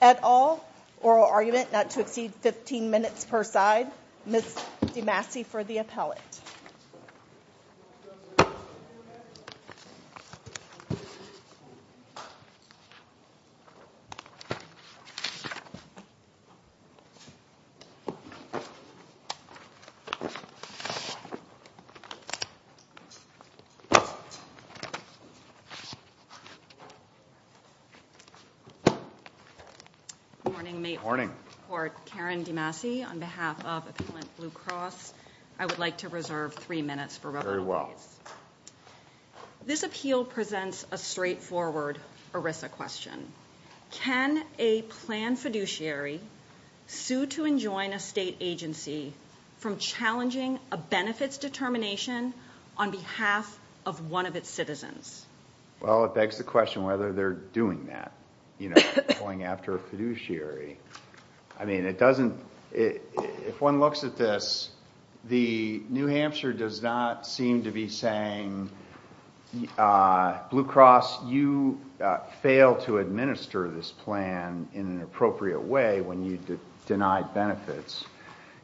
at all. Oral argument not to exceed 15 minutes per side. Ms. DeMasi for the appellate. Good morning. May it please the Court, Karen DeMasi on behalf of Appellant BlueCross. I would like to reserve three minutes for rebuttal. Very well. This appeal presents a straightforward ERISA question. Can a planned fiduciary sue to and join a state agency from challenging a benefits determination on behalf of one of its citizens? Well, it begs the question whether they're doing that. Going after a fiduciary. If one looks at this, New Hampshire does not seem to be saying, BlueCross, you failed to administer this plan in an appropriate way when you denied benefits.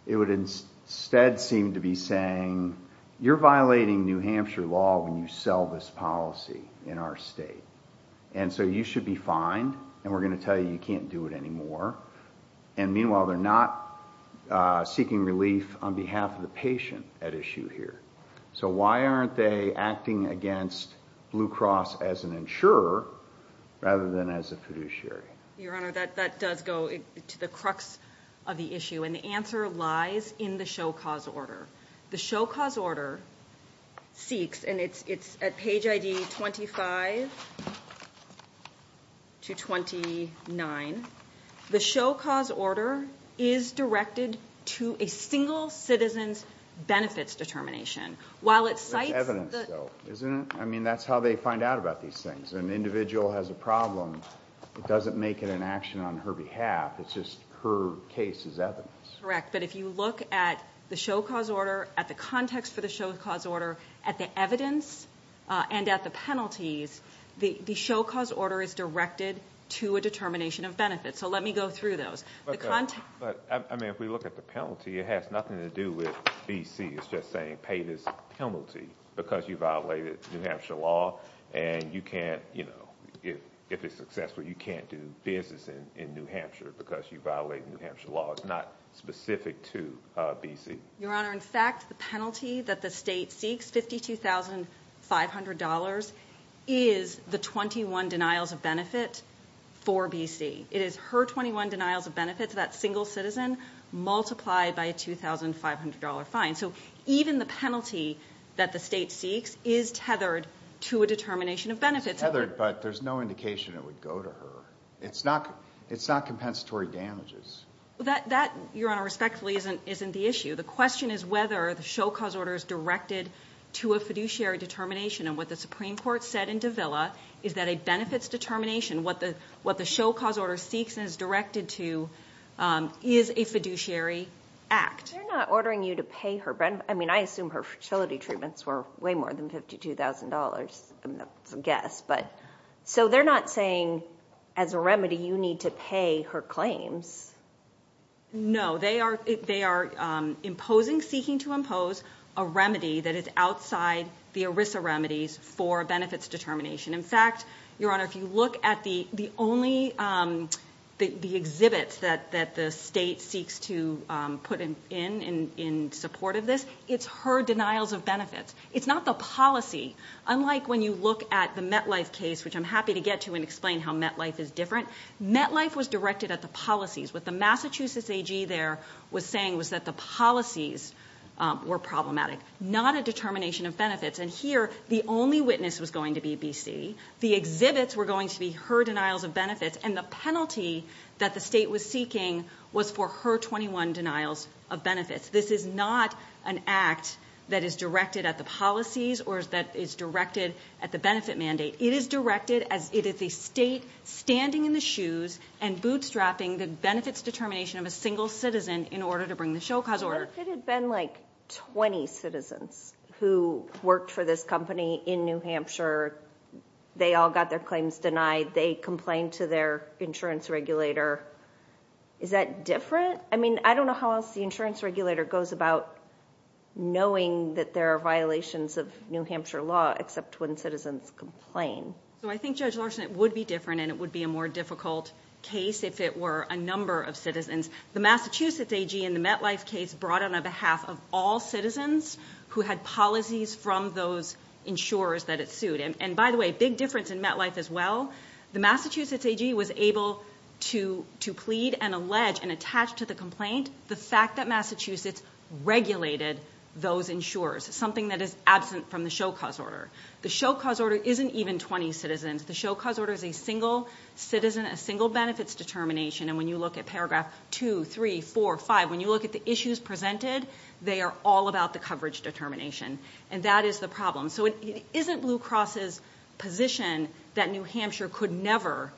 It would instead seem to be saying, you're violating New Hampshire law when you sell this policy in our state. And so you should be fined and we're going to tell you you can't do it anymore. And meanwhile, they're not seeking relief on behalf of the patient at issue here. So why aren't they acting against BlueCross as an insurer rather than as a fiduciary? Your Honor, that does go to the crux of the issue. And the answer lies in the show cause order. The show cause order seeks, and it's at page ID 25 to 29, the show cause order is directed to a single citizen's benefits determination. That's evidence though, isn't it? I mean, that's how they find out about these things. An individual has a problem, it doesn't make it an action on her behalf, it's just her case is evidence. Correct. But if you look at the show cause order, at the context for the show cause order, at the evidence, and at the penalties, the show cause order is directed to a determination of benefits. So let me go through those. But, I mean, if we look at the penalty, it has nothing to do with BC. It's just saying pay this penalty because you violated New Hampshire law and you can't, you know, if it's successful, you can't do business in New Hampshire because you violated New Hampshire law. It's not specific to BC. Your Honor, in fact, the penalty that the state seeks, $52,500, is the 21 denials of benefit for BC. It is her 21 denials of benefits, that single citizen, multiplied by a $2,500 fine. So even the penalty that the state seeks is tethered to a determination of benefits. It's tethered, but there's no indication it would go to her. It's not compensatory damages. That, Your Honor, respectfully isn't the issue. The question is whether the show cause order is directed to a fiduciary determination. And what the Supreme Court said in Davila is that a benefits determination, what the show cause order seeks and is directed to, is a fiduciary act. They're not ordering you to pay her benefits. I mean, I assume her fertility treatments were way more than $52,000, I guess. So they're not saying as a remedy you need to pay her claims. No. They are imposing, seeking to impose, a remedy that is outside the ERISA remedies for benefits determination. In fact, Your Honor, if you look at the only exhibits that the state seeks to put in in support of this, it's her denials of benefits. It's not the policy. Unlike when you look at the MetLife case, which I'm happy to get to and explain how MetLife is different, MetLife was directed at the policies. What the Massachusetts AG there was saying was that the policies were problematic, not a determination of benefits. And here, the only witness was going to be B.C. The exhibits were going to be her denials of benefits. And the penalty that the state was seeking was for her 21 denials of benefits. This is not an act that is directed at the policies or that is directed at the benefit mandate. It is directed as it is a state standing in the shoes and bootstrapping the benefits determination of a single citizen in order to bring the show cause order. It had been like 20 citizens who worked for this company in New Hampshire. They all got their claims denied. They complained to their insurance regulator. Is that different? I mean, I don't know how else the insurance regulator goes about knowing that there are violations of New Hampshire law except when citizens complain. So I think, Judge Larson, it would be different and it would be a more difficult case if it were a number of citizens. The Massachusetts AG in the MetLife case brought on behalf of all citizens who had policies from those insurers that it sued. And by the way, big difference in MetLife as well. The Massachusetts AG was able to plead and allege and attach to the complaint the fact that Massachusetts regulated those insurers, something that is absent from the show cause order. The show cause order isn't even 20 citizens. The show cause order is a single citizen, a single benefits determination. And when you look at paragraph 2, 3, 4, 5, when you look at the issues presented, they are all about the coverage determination. And that is the problem. So it isn't Blue Cross's position that New Hampshire could never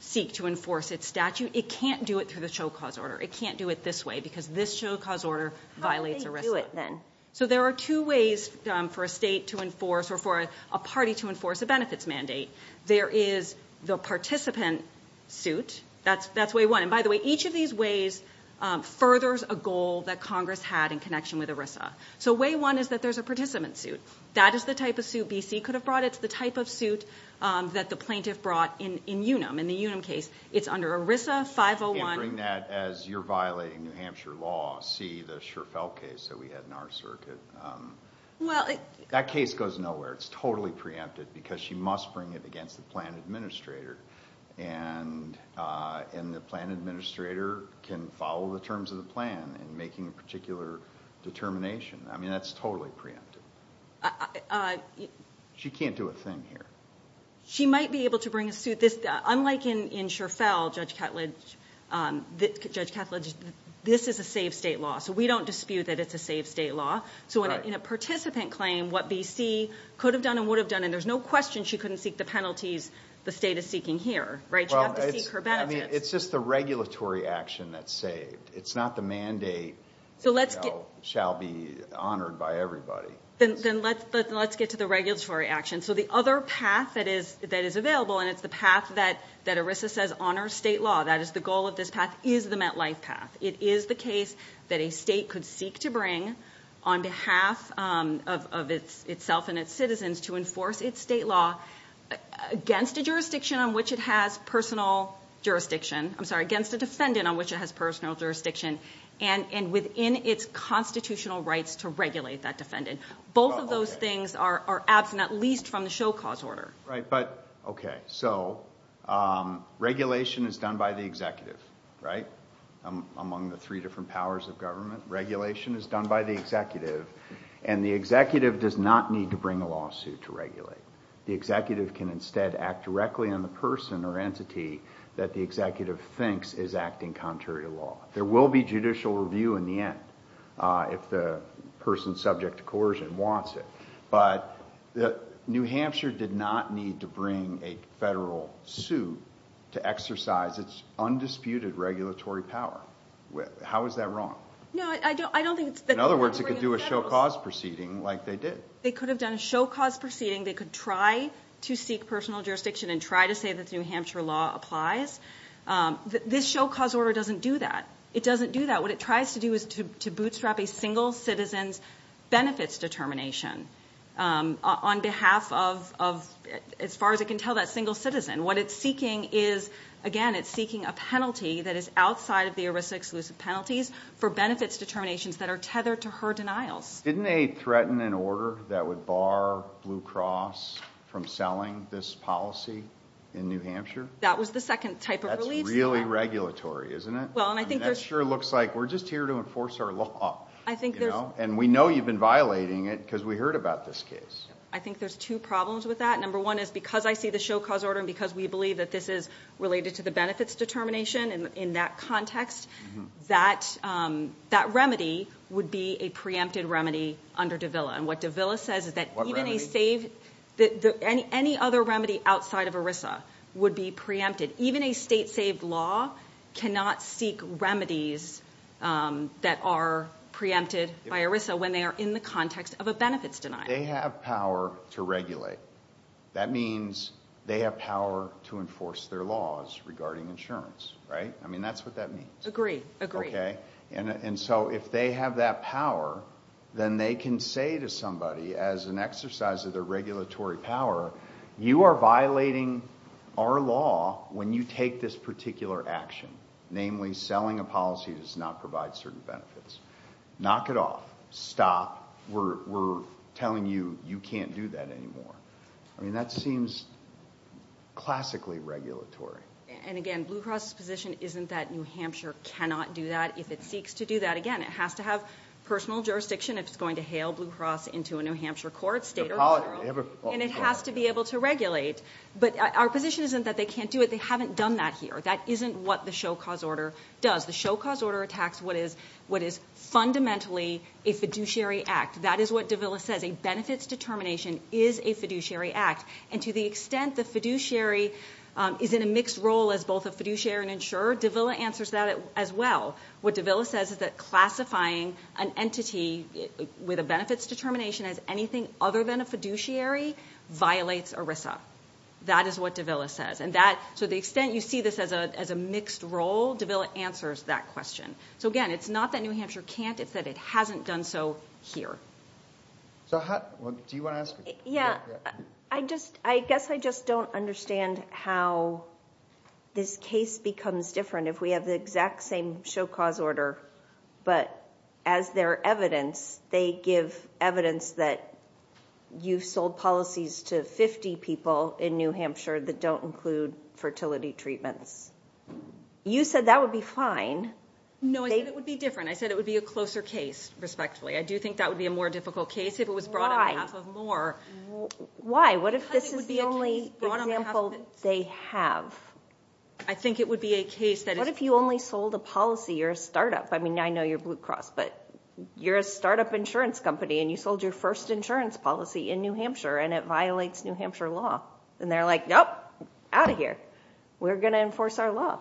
seek to enforce its statute. It can't do it through the show cause order. It can't do it this way because this show cause order violates ERISA. So there are two ways for a state to enforce or for a party to enforce a benefits mandate. There is the participant suit. That's way one. And by the way, each of these ways furthers a goal that Congress had in connection with ERISA. So way one is that there's a participant suit. That is the type of suit BC could have brought. It's the type of suit that the plaintiff brought in Unum. In the Unum case, it's under ERISA 501. I can't bring that as you're violating New Hampshire law, see the Scherfel case that we had in our circuit. That case goes nowhere. It's totally preempted because she must bring it against the plan administrator. And the plan administrator can follow the terms of the plan in making a particular determination. I mean, that's totally preempted. She can't do a thing here. She might be able to bring a suit. Unlike in Scherfel, Judge Ketledge, this is a safe state law. So we don't dispute that it's a safe state law. So in a participant claim, what BC could have done and would have done, and there's no question she couldn't seek the penalties the state is seeking here. It's just the regulatory action that's saved. It's not the mandate shall be honored by everybody. Then let's get to the regulatory action. So the other path that is available, and it's the path that ERISA says honors state law, that is the goal of this path, is the MetLife path. It is the case that a state could seek to bring on behalf of itself and its citizens to enforce its state law against a jurisdiction on which it has personal jurisdiction. I'm sorry, against a defendant on which it has personal jurisdiction, and within its constitutional rights to regulate that defendant. Both of those things are absent, at least from the show cause order. So regulation is done by the executive, among the three different powers of government. Regulation is done by the executive, and the executive does not need to bring a lawsuit to regulate. The executive can instead act directly on the person or entity that the executive thinks is acting contrary to law. There will be judicial review in the end if the person subject to coercion wants it. But New Hampshire did not need to bring a federal suit to exercise its undisputed regulatory power. How is that wrong? In other words, it could do a show cause proceeding like they did. They could have done a show cause proceeding. They could try to seek personal jurisdiction and try to say that the New Hampshire law applies. This show cause order doesn't do that. It doesn't do that. What it tries to do is to bootstrap a single citizen's benefits determination on behalf of, as far as it can tell, that single citizen. What it's seeking is, again, it's seeking a penalty that is outside of the ERISA-exclusive penalties for benefits determinations that are tethered to her denials. Didn't they threaten an order that would bar Blue Cross from selling this policy in New Hampshire? That was the second type of relief. That's really regulatory, isn't it? Well, and I think there's... That sure looks like we're just here to enforce our law. I think there's... And we know you've been violating it because we heard about this case. I think there's two problems with that. Number one is because I see the show cause order and because we believe that this is related to the benefits determination in that context, that remedy would be a preempted remedy under DEVILA. And what DEVILA says is that any other remedy outside of ERISA would be preempted. Even a state-saved law cannot seek remedies that are preempted by ERISA when they are in the context of a benefits denial. They have power to regulate. That means they have power to enforce their laws regarding insurance, right? I mean, that's what that means. Agree. Agree. And so if they have that power, then they can say to somebody as an exercise of their regulatory power, you are violating our law when you take this particular action, namely selling a policy that does not provide certain benefits. Knock it off. Stop. We're telling you you can't do that anymore. I mean, that seems classically regulatory. And again, Blue Cross's position isn't that New Hampshire cannot do that if it seeks to do that. Again, it has to have personal jurisdiction if it's going to hail Blue Cross into a New Hampshire court, state or federal. And it has to be able to regulate. But our position isn't that they can't do it. They haven't done that here. That isn't what the show cause order does. The show cause order attacks what is fundamentally a fiduciary act. That is what Davila says. A benefits determination is a fiduciary act. And to the extent the fiduciary is in a mixed role as both a fiduciary and insurer, Davila answers that as well. What Davila says is that classifying an entity with a benefits determination as anything other than a fiduciary violates ERISA. That is what Davila says. So to the extent you see this as a mixed role, Davila answers that question. So again, it's not that New Hampshire can't. It's that it hasn't done so here. Do you want to ask? Yeah. I guess I just don't understand how this case becomes different if we have the exact same show cause order, but as their evidence, they give evidence that you've sold policies to 50 people in New Hampshire that don't include fertility treatments. You said that would be fine. No, I said it would be different. I said it would be a closer case, respectfully. I do think that would be a more difficult case if it was brought on behalf of more. Why? What if this is the only example they have? I think it would be a case that is... You've only sold a policy. You're a startup. I mean, I know you're Blue Cross, but you're a startup insurance company, and you sold your first insurance policy in New Hampshire, and it violates New Hampshire law, and they're like, nope, out of here. We're going to enforce our law.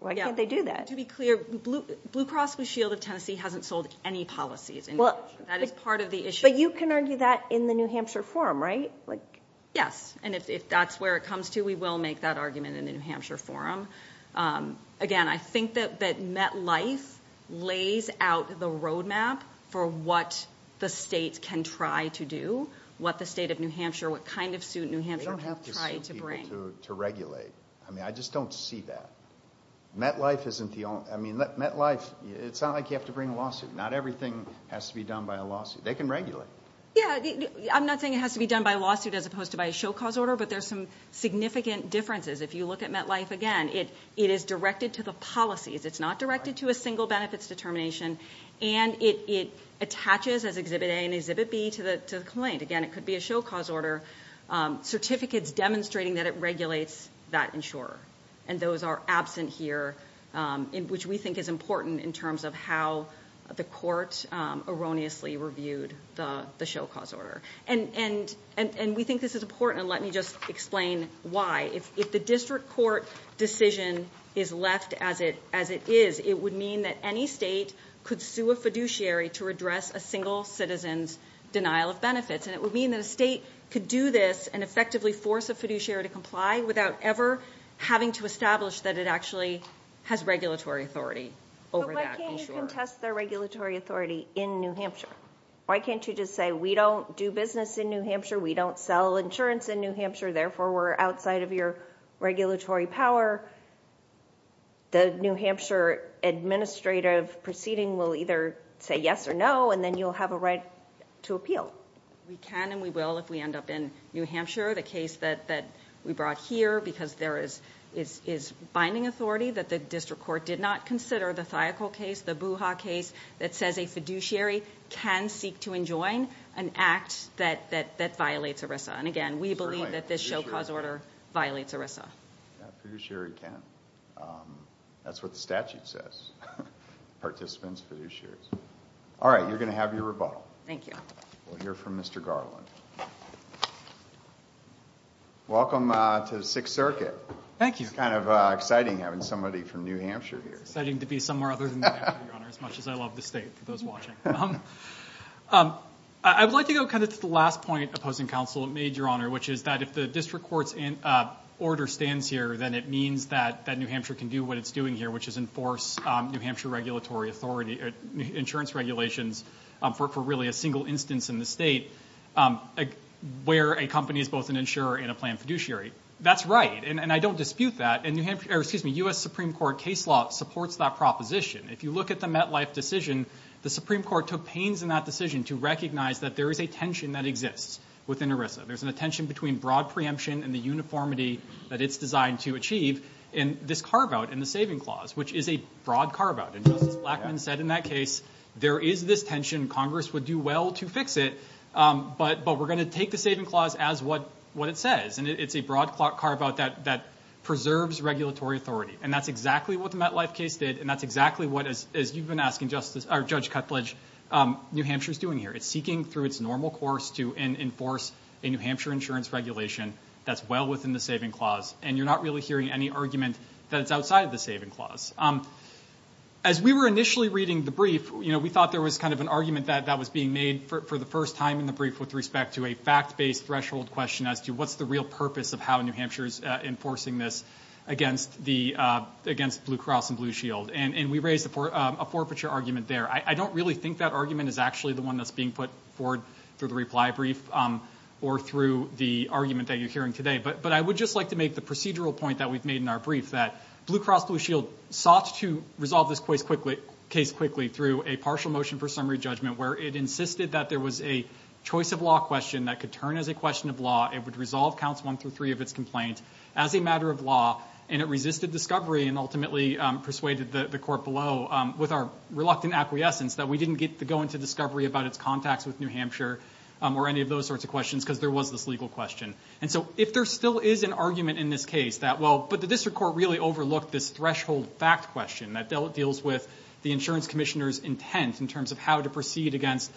Why can't they do that? To be clear, Blue Cross Blue Shield of Tennessee hasn't sold any policies in New Hampshire. That is part of the issue. But you can argue that in the New Hampshire forum, right? Yes, and if that's where it comes to, we will make that argument in the New Hampshire forum. Again, I think that MetLife lays out the roadmap for what the state can try to do, what the state of New Hampshire, what kind of suit New Hampshire can try to bring. They don't have to sue people to regulate. I mean, I just don't see that. MetLife isn't the only... I mean, MetLife, it's not like you have to bring a lawsuit. Not everything has to be done by a lawsuit. They can regulate. Yeah, I'm not saying it has to be done by a lawsuit as opposed to by a show cause order, but there's some significant differences. If you look at MetLife, again, it is directed to the policies. It's not directed to a single benefits determination, and it attaches as Exhibit A and Exhibit B to the complaint. Again, it could be a show cause order, certificates demonstrating that it regulates that insurer. And those are absent here, which we think is important in terms of how the court erroneously reviewed the show cause order. And we think this is important, and let me just explain why. If the district court decision is left as it is, it would mean that any state could sue a fiduciary to redress a single citizen's denial of benefits, and it would mean that a state could do this and effectively force a fiduciary to comply without ever having to establish that it actually has regulatory authority over that insurer. But why can't you contest their regulatory authority in New Hampshire? Why can't you just say, we don't do business in New Hampshire, we don't sell insurance in New Hampshire, therefore we're outside of your regulatory power? The New Hampshire administrative proceeding will either say yes or no, and then you'll have a right to appeal. We can and we will if we end up in New Hampshire. The case that we brought here, because there is binding authority that the district court did not consider, the Thiokol case, the Booha case, that says a fiduciary can seek to enjoin an act that violates ERISA. And again, we believe that this show cause order violates ERISA. A fiduciary can. That's what the statute says. Participants, fiduciaries. All right, you're going to have your rebuttal. Thank you. We'll hear from Mr. Garland. Welcome to the Sixth Circuit. Thank you. It's kind of exciting having somebody from New Hampshire here. It's exciting to be somewhere other than New Hampshire, Your Honor, as much as I love the state, for those watching. I would like to go kind of to the last point opposing counsel made, Your Honor, which is that if the district court's order stands here, then it means that New Hampshire can do what it's doing here, which is enforce New Hampshire regulatory authority, insurance regulations, for really a single instance in the state where a company is both an insurer and a planned fiduciary. That's right, and I don't dispute that. And U.S. Supreme Court case law supports that proposition. If you look at the MetLife decision, the Supreme Court took pains in that decision to recognize that there is a tension that exists within ERISA. There's a tension between broad preemption and the uniformity that it's designed to achieve, and this carve-out in the saving clause, which is a broad carve-out. And Justice Blackmun said in that case, there is this tension. Congress would do well to fix it, but we're going to take the saving clause as what it says, and it's a broad carve-out that preserves regulatory authority. And that's exactly what the MetLife case did, and that's exactly what, as you've been asking, or Judge Cutledge, New Hampshire's doing here. It's seeking through its normal course to enforce a New Hampshire insurance regulation that's well within the saving clause, and you're not really hearing any argument that it's outside of the saving clause. As we were initially reading the brief, you know, we thought there was kind of an argument that was being made for the first time in the brief with respect to a fact-based threshold question as to what's the real purpose of how New Hampshire is enforcing this against Blue Cross and Blue Shield. And we raised a forfeiture argument there. I don't really think that argument is actually the one that's being put forward through the reply brief or through the argument that you're hearing today, but I would just like to make the procedural point that we've made in our brief, that Blue Cross Blue Shield sought to resolve this case quickly through a partial motion for summary judgment where it insisted that there was a choice of law question that could turn as a question of law. It would resolve counts one through three of its complaint as a matter of law, and it resisted discovery and ultimately persuaded the court below with our reluctant acquiescence that we didn't get to go into discovery about its contacts with New Hampshire or any of those sorts of questions because there was this legal question. And so if there still is an argument in this case that, well, but the district court really overlooked this threshold fact question that deals with the insurance commissioner's intent in terms of how to proceed against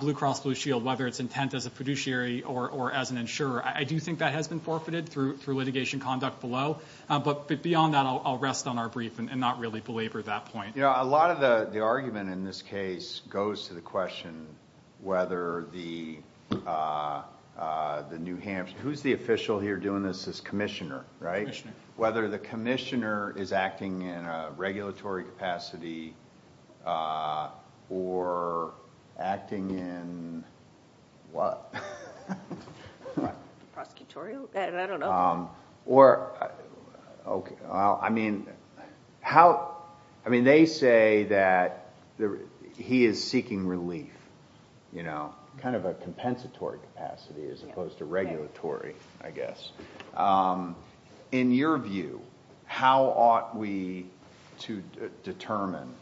Blue Cross Blue Shield, whether it's intent as a fiduciary or as an insurer. I do think that has been forfeited through litigation conduct below, but beyond that I'll rest on our brief and not really belabor that point. You know, a lot of the argument in this case goes to the question whether the New Hampshire, who's the official here doing this as commissioner, right? Whether the commissioner is acting in a regulatory capacity or acting in what? Prosecutorial? I don't know. Or, I mean, how, I mean, they say that he is seeking relief, you know, kind of a compensatory capacity as opposed to regulatory, I guess. In your view, how ought we to determine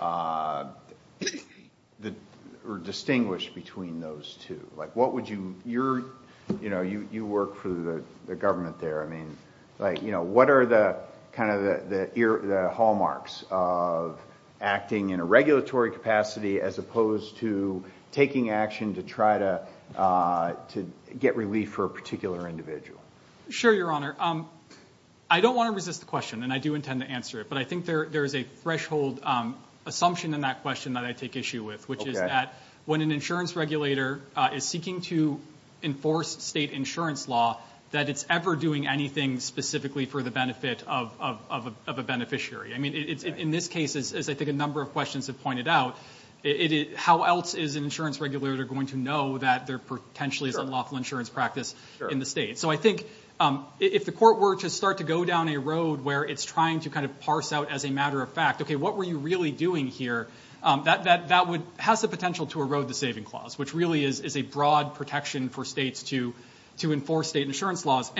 or distinguish between those two? Like what would you, you know, you work for the government there. I mean, like, you know, what are the kind of the hallmarks of acting in a regulatory capacity as opposed to taking action to try to get relief for a particular individual? Sure, Your Honor. I don't want to resist the question, and I do intend to answer it, but I think there is a threshold assumption in that question that I take issue with, which is that when an insurance regulator is seeking to enforce state insurance law, that it's ever doing anything specifically for the benefit of a beneficiary. I mean, in this case, as I think a number of questions have pointed out, how else is an insurance regulator going to know that there potentially is unlawful insurance practice in the state? So I think if the court were to start to go down a road where it's trying to kind of parse out as a matter of fact, okay, what were you really doing here, that has the potential to erode the saving clause, which really is a broad protection for states to enforce state insurance laws.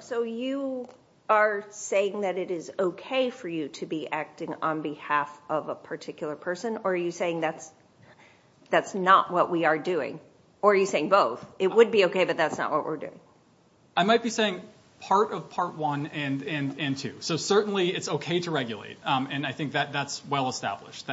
So you are saying that it is okay for you to be acting on behalf of a particular person, or are you saying that's not what we are doing? Or are you saying both? It would be okay, but that's not what we're doing. I might be saying part of part one and two. So certainly it's okay to regulate, and I think that's well established.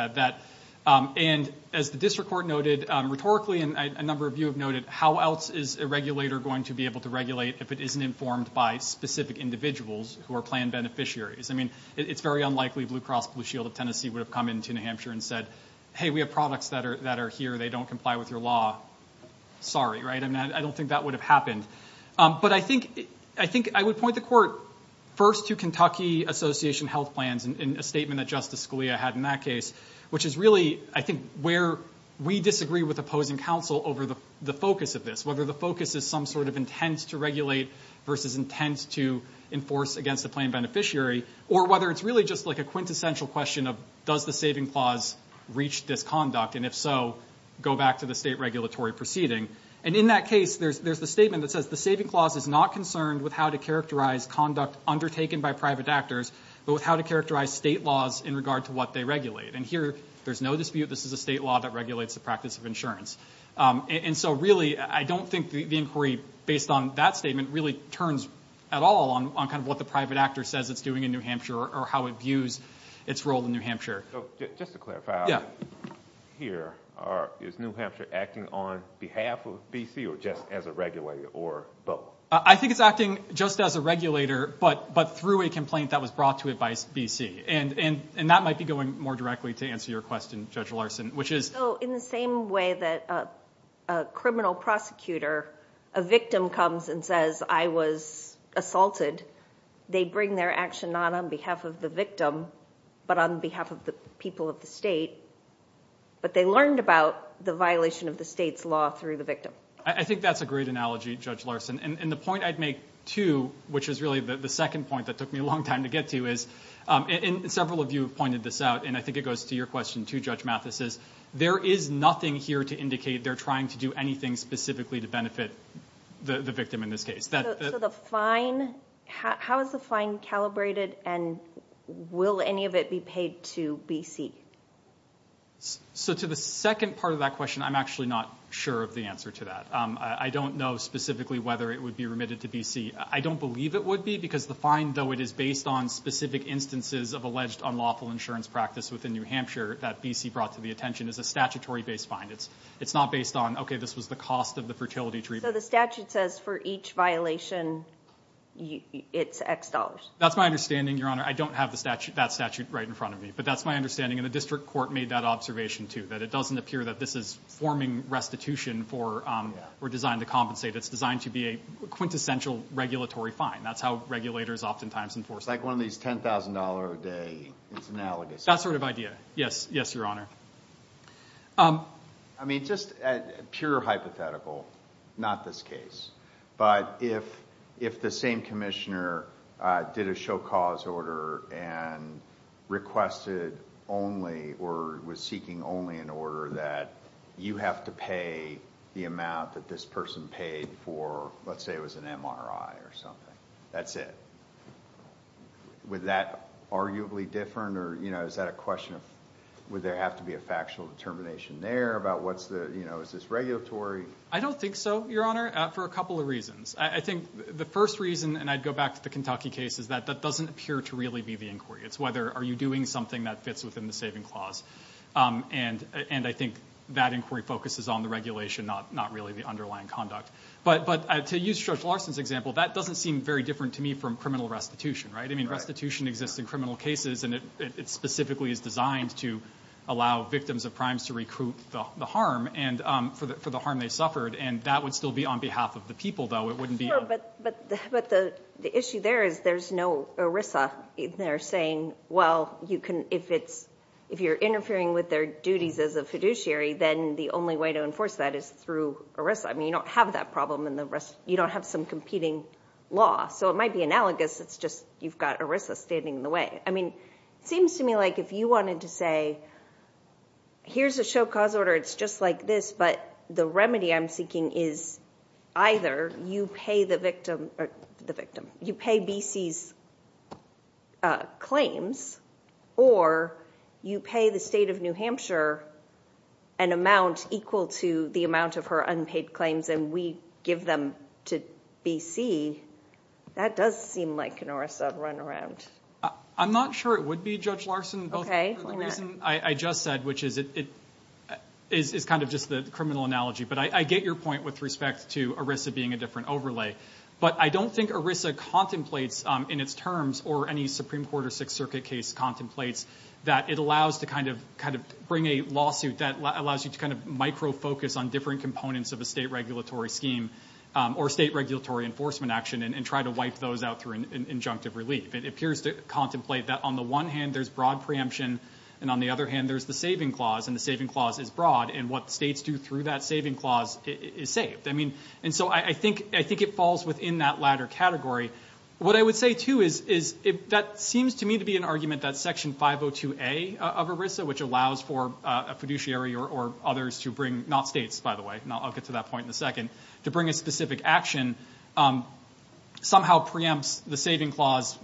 And as the district court noted rhetorically, and a number of you have noted, how else is a regulator going to be able to regulate if it isn't informed by specific individuals who are planned beneficiaries? I mean, it's very unlikely Blue Cross Blue Shield of Tennessee would have come into New Hampshire and said, hey, we have products that are here, they don't comply with your law. Sorry, right? I don't think that would have happened. But I think I would point the court first to Kentucky Association Health Plans in a statement that Justice Scalia had in that case, which is really, I think, where we disagree with opposing counsel over the focus of this, whether the focus is some sort of intent to regulate versus intent to enforce against a planned beneficiary, or whether it's really just like a quintessential question of does the saving clause reach this conduct, and if so, go back to the state regulatory proceeding. And in that case, there's the statement that says, the saving clause is not concerned with how to characterize conduct undertaken by private actors, but with how to characterize state laws in regard to what they regulate. And here, there's no dispute, this is a state law that regulates the practice of insurance. And so, really, I don't think the inquiry, based on that statement, really turns at all on kind of what the private actor says it's doing in New Hampshire or how it views its role in New Hampshire. Just to clarify, here, is New Hampshire acting on behalf of B.C. or just as a regulator or both? I think it's acting just as a regulator, but through a complaint that was brought to it by B.C. And that might be going more directly to answer your question, Judge Larson, which is- So, in the same way that a criminal prosecutor, a victim comes and says, I was assaulted, they bring their action not on behalf of the victim, but on behalf of the people of the state, but they learned about the violation of the state's law through the victim. I think that's a great analogy, Judge Larson. And the point I'd make, too, which is really the second point that took me a long time to get to, and several of you have pointed this out, and I think it goes to your question, too, Judge Mathis, is there is nothing here to indicate they're trying to do anything specifically to benefit the victim in this case. So the fine, how is the fine calibrated, and will any of it be paid to B.C.? So to the second part of that question, I'm actually not sure of the answer to that. I don't know specifically whether it would be remitted to B.C. I don't believe it would be because the fine, though it is based on specific instances of alleged unlawful insurance practice within New Hampshire that B.C. brought to the attention, is a statutory-based fine. It's not based on, okay, this was the cost of the fertility treatment. So the statute says for each violation, it's X dollars. That's my understanding, Your Honor. I don't have that statute right in front of me, but that's my understanding. And the district court made that observation, too, that it doesn't appear that this is forming restitution for or designed to compensate. It's designed to be a quintessential regulatory fine. That's how regulators oftentimes enforce it. Like one of these $10,000 a day. It's analogous. That sort of idea. Yes, Your Honor. I mean, just pure hypothetical, not this case. But if the same commissioner did a show cause order and requested only or was seeking only an order that you have to pay the amount that this person paid for, let's say it was an MRI or something. That's it. Would that arguably differ? Or, you know, is that a question of would there have to be a factual determination there about what's the, you know, is this regulatory? I don't think so, Your Honor, for a couple of reasons. I think the first reason, and I'd go back to the Kentucky case, is that that doesn't appear to really be the inquiry. It's whether are you doing something that fits within the saving clause. And I think that inquiry focuses on the regulation, not really the underlying conduct. But to use Judge Larson's example, that doesn't seem very different to me from criminal restitution, right? I mean, restitution exists in criminal cases, and it specifically is designed to allow victims of crimes to recruit the harm for the harm they suffered, and that would still be on behalf of the people, though. Sure, but the issue there is there's no ERISA in there saying, well, you can, if it's, if you're interfering with their duties as a fiduciary, then the only way to enforce that is through ERISA. I mean, you don't have that problem in the rest, you don't have some competing law. So it might be analogous, it's just you've got ERISA standing in the way. I mean, it seems to me like if you wanted to say, here's a show cause order, it's just like this, but the remedy I'm seeking is either you pay the victim, you pay B.C.'s claims, or you pay the state of New Hampshire an amount equal to the amount of her unpaid claims and we give them to B.C. That does seem like an ERISA runaround. I'm not sure it would be, Judge Larson. Okay. The reason I just said, which is it is kind of just the criminal analogy, but I get your point with respect to ERISA being a different overlay, but I don't think ERISA contemplates in its terms or any Supreme Court or Sixth Circuit case contemplates that it allows to kind of bring a lawsuit that allows you to kind of micro-focus on different components of a state regulatory scheme or state regulatory enforcement action and try to wipe those out through an injunctive relief. It appears to contemplate that on the one hand there's broad preemption and on the other hand there's the saving clause, and the saving clause is broad, and what states do through that saving clause is saved. I mean, and so I think it falls within that latter category. What I would say, too, is that seems to me to be an argument that Section 502A of ERISA, which allows for a fiduciary or others to bring, not states, by the way, I'll get to that point in a second, to bring a specific action somehow preempts the saving clause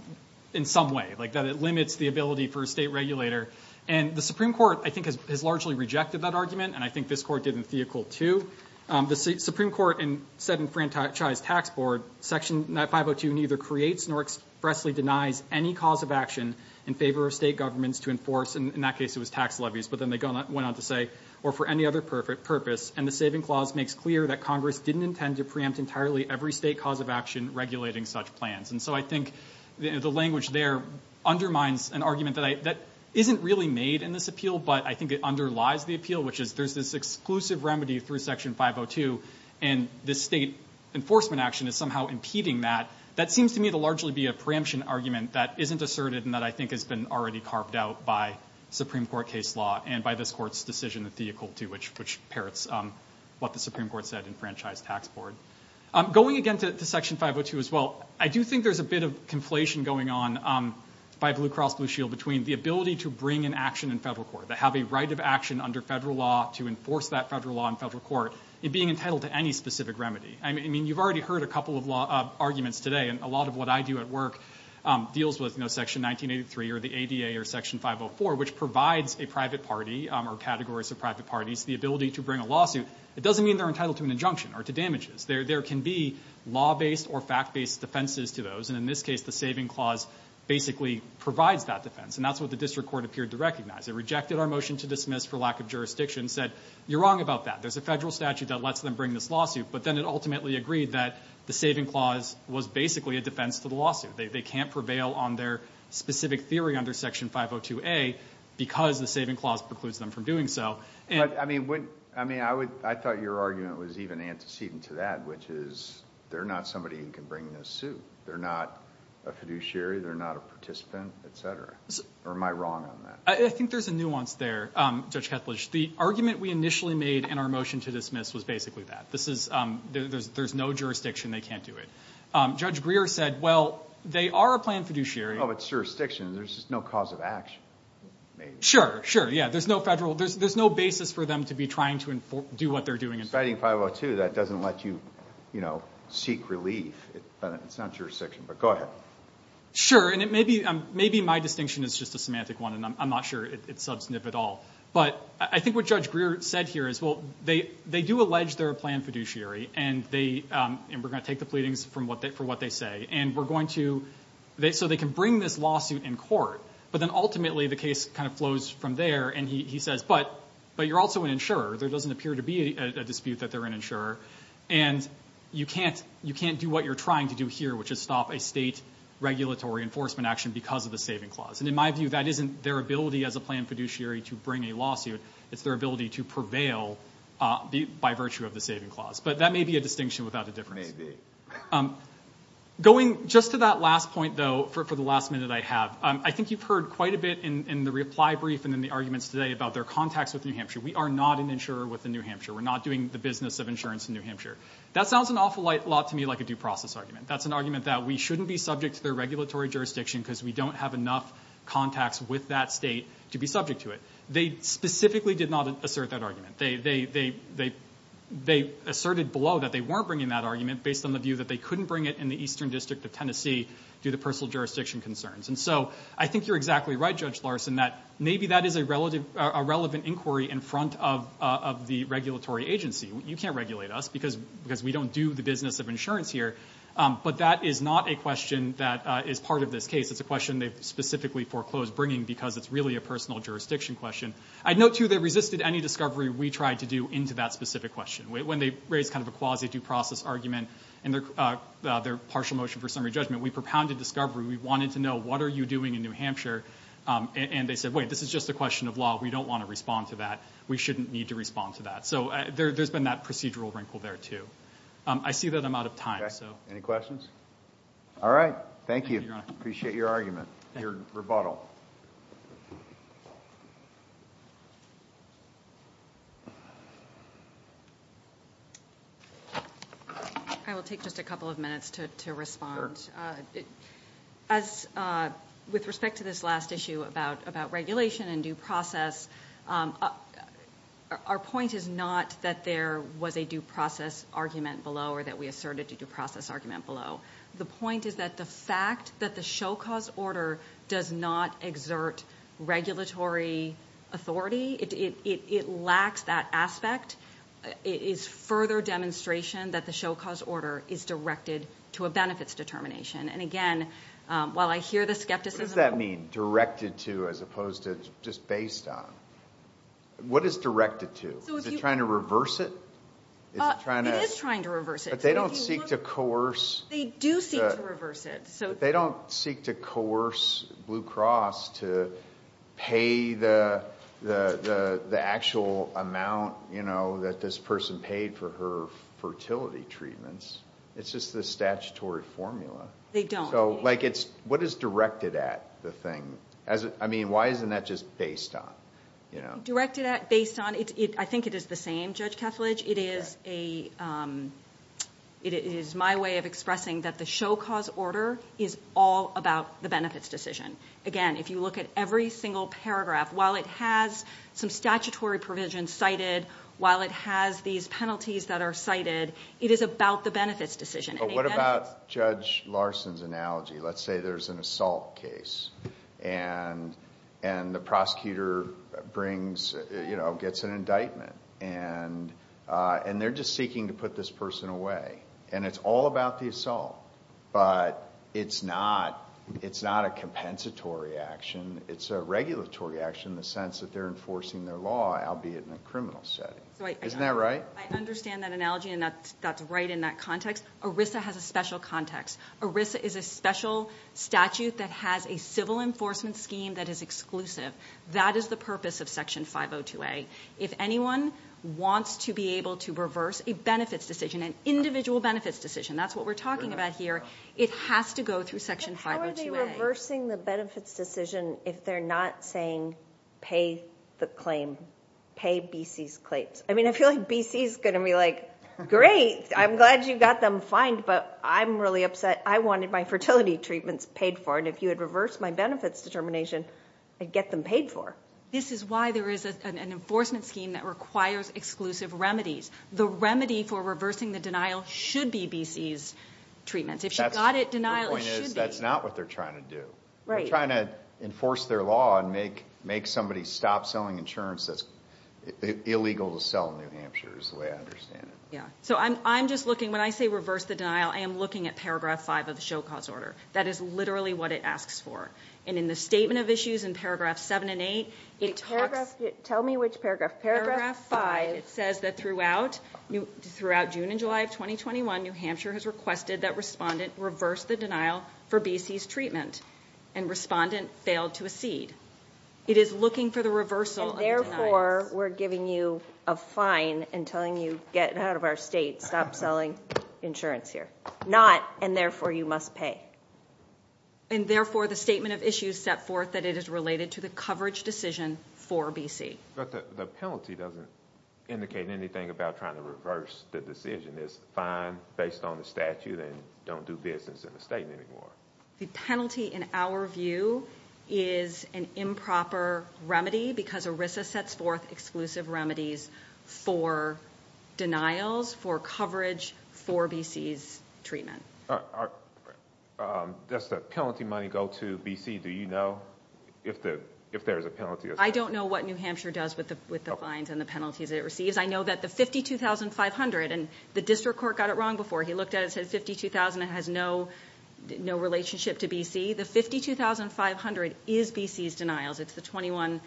in some way, like that it limits the ability for a state regulator, and the Supreme Court, I think, has largely rejected that argument, and I think this Court did in Theocle, too. The Supreme Court said in Fran Chi's Tax Board, Section 502 neither creates nor expressly denies any cause of action in favor of state governments to enforce, and in that case it was tax levies, but then they went on to say, or for any other purpose, and the saving clause makes clear that Congress didn't intend to preempt entirely every state cause of action regulating such plans. And so I think the language there undermines an argument that isn't really made in this appeal, but I think it underlies the appeal, which is there's this exclusive remedy through Section 502, and this state enforcement action is somehow impeding that. That seems to me to largely be a preemption argument that isn't asserted and that I think has been already carved out by Supreme Court case law and by this Court's decision in Theocle, too, which parrots what the Supreme Court said in Fran Chi's Tax Board. Going again to Section 502 as well, I do think there's a bit of conflation going on by Blue Cross Blue Shield between the ability to bring an action in federal court, that have a right of action under federal law to enforce that federal law in federal court, and being entitled to any specific remedy. I mean, you've already heard a couple of arguments today, and a lot of what I do at work deals with Section 1983 or the ADA or Section 504, which provides a private party or categories of private parties the ability to bring a lawsuit. It doesn't mean they're entitled to an injunction or to damages. There can be law-based or fact-based defenses to those, and in this case the saving clause basically provides that defense, and that's what the district court appeared to recognize. It rejected our motion to dismiss for lack of jurisdiction and said, you're wrong about that. There's a federal statute that lets them bring this lawsuit, but then it ultimately agreed that the saving clause was basically a defense to the lawsuit. They can't prevail on their specific theory under Section 502A because the saving clause precludes them from doing so. But, I mean, I thought your argument was even antecedent to that, which is they're not somebody who can bring this suit. They're not a fiduciary. They're not a participant, et cetera. Or am I wrong on that? I think there's a nuance there, Judge Kethledge. The argument we initially made in our motion to dismiss was basically that. There's no jurisdiction. They can't do it. Judge Greer said, well, they are a planned fiduciary. Oh, but it's jurisdiction. There's just no cause of action. Sure, sure. Yeah, there's no federal. There's no basis for them to be trying to do what they're doing. Fighting 502, that doesn't let you seek relief. It's not jurisdiction. But go ahead. Sure, and maybe my distinction is just a semantic one, and I'm not sure it's substantive at all. But I think what Judge Greer said here is, well, they do allege they're a planned fiduciary, and we're going to take the pleadings for what they say, and we're going to so they can bring this lawsuit in court. But then ultimately the case kind of flows from there, and he says, but you're also an insurer. There doesn't appear to be a dispute that they're an insurer, and you can't do what you're trying to do here, which is stop a state regulatory enforcement action because of the saving clause. And in my view, that isn't their ability as a planned fiduciary to bring a lawsuit. It's their ability to prevail by virtue of the saving clause. But that may be a distinction without a difference. It may be. Going just to that last point, though, for the last minute I have, I think you've heard quite a bit in the reply brief and in the arguments today about their contacts with New Hampshire. We are not an insurer with New Hampshire. We're not doing the business of insurance in New Hampshire. That sounds an awful lot to me like a due process argument. That's an argument that we shouldn't be subject to their regulatory jurisdiction because we don't have enough contacts with that state to be subject to it. They specifically did not assert that argument. They asserted below that they weren't bringing that argument based on the view that they couldn't bring it in the Eastern District of Tennessee due to personal jurisdiction concerns. And so I think you're exactly right, Judge Larson, that maybe that is a relevant inquiry in front of the regulatory agency. You can't regulate us because we don't do the business of insurance here. But that is not a question that is part of this case. It's a question they've specifically foreclosed bringing because it's really a personal jurisdiction question. I'd note, too, they resisted any discovery we tried to do into that specific question. When they raised kind of a quasi-due process argument in their partial motion for summary judgment, we propounded discovery. We wanted to know, what are you doing in New Hampshire? And they said, wait, this is just a question of law. We don't want to respond to that. We shouldn't need to respond to that. So there's been that procedural wrinkle there, too. I see that I'm out of time. Any questions? All right. Thank you. Appreciate your argument, your rebuttal. I will take just a couple of minutes to respond. Sure. With respect to this last issue about regulation and due process, our point is not that there was a due process argument below or that we asserted a due process argument below. The point is that the fact that the show-cause order does not exert regulatory authority, it lacks that aspect, is further demonstration that the show-cause order is directed to a benefits determination. And again, while I hear the skepticism... What does that mean, directed to, as opposed to just based on? What is directed to? Is it trying to reverse it? It is trying to reverse it. But they don't seek to coerce... They do seek to reverse it. They don't seek to coerce Blue Cross to pay the actual amount, you know, that this person paid for her fertility treatments. It's just the statutory formula. They don't. So, like, what is directed at, the thing? I mean, why isn't that just based on? Directed at, based on, I think it is the same, Judge Kethledge. It is a... It is my way of expressing that the show-cause order is all about the benefits decision. Again, if you look at every single paragraph, while it has some statutory provisions cited, while it has these penalties that are cited, it is about the benefits decision. But what about Judge Larson's analogy? Let's say there is an assault case, and the prosecutor brings, you know, gets an indictment, and they are just seeking to put this person away, and it is all about the assault, but it is not a compensatory action. It is a regulatory action in the sense that they are enforcing their law, albeit in a criminal setting. Isn't that right? I understand that analogy, and that is right in that context. ERISA has a special context. ERISA is a special statute that has a civil enforcement scheme that is exclusive. That is the purpose of Section 502A. If anyone wants to be able to reverse a benefits decision, an individual benefits decision, that is what we are talking about here, it has to go through Section 502A. But how are they reversing the benefits decision if they are not saying pay the claim, pay BC's claims? I mean, I feel like BC is going to be like, great, I am glad you got them fined, but I am really upset. I wanted my fertility treatments paid for, and if you had reversed my benefits determination, I would get them paid for. This is why there is an enforcement scheme that requires exclusive remedies. The remedy for reversing the denial should be BC's treatments. If she got it, denial should be. The point is that is not what they are trying to do. They are trying to enforce their law and make somebody stop selling insurance that is illegal to sell in New Hampshire, is the way I understand it. When I say reverse the denial, I am looking at Paragraph 5 of the Show Cause Order. That is literally what it asks for. In the Statement of Issues in Paragraph 7 and 8, it talks... Tell me which paragraph. Paragraph 5. It says that throughout June and July of 2021, New Hampshire has requested that Respondent reverse the denial for BC's treatment, and Respondent failed to accede. It is looking for the reversal of the denial. Or we are giving you a fine and telling you to get out of our state and stop selling insurance here. Not, and therefore you must pay. And therefore the Statement of Issues set forth that it is related to the coverage decision for BC. But the penalty doesn't indicate anything about trying to reverse the decision. It is fine based on the statute and don't do business in the state anymore. The penalty, in our view, is an improper remedy because ERISA sets forth exclusive remedies for denials, for coverage, for BC's treatment. Does the penalty money go to BC? Do you know if there is a penalty? I don't know what New Hampshire does with the fines and the penalties it receives. I know that the $52,500, and the District Court got it wrong before. He looked at it and said $52,000 has no relationship to BC. The $52,500 is BC's denials. It's the 21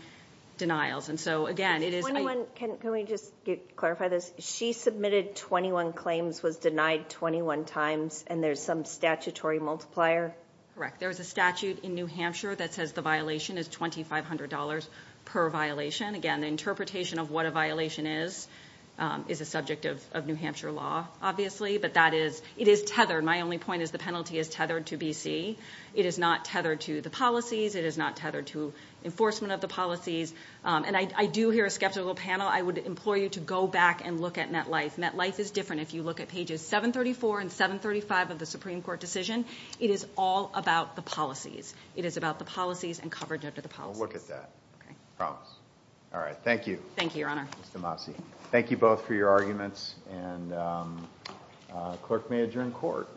denials. And so, again, it is... Can we just clarify this? She submitted 21 claims, was denied 21 times, and there's some statutory multiplier? Correct. There is a statute in New Hampshire that says the violation is $2,500 per violation. Again, the interpretation of what a violation is is a subject of New Hampshire law, obviously. But that is, it is tethered. My only point is the penalty is tethered to BC. It is not tethered to the policies. It is not tethered to enforcement of the policies. And I do hear a skeptical panel. I would implore you to go back and look at MetLife. MetLife is different. If you look at pages 734 and 735 of the Supreme Court decision, it is all about the policies. It is about the policies and coverage of the policies. I'll look at that. Okay. I promise. All right, thank you. Thank you, Your Honor. Ms. DeMasi. Thank you both for your arguments, and the clerk may adjourn court.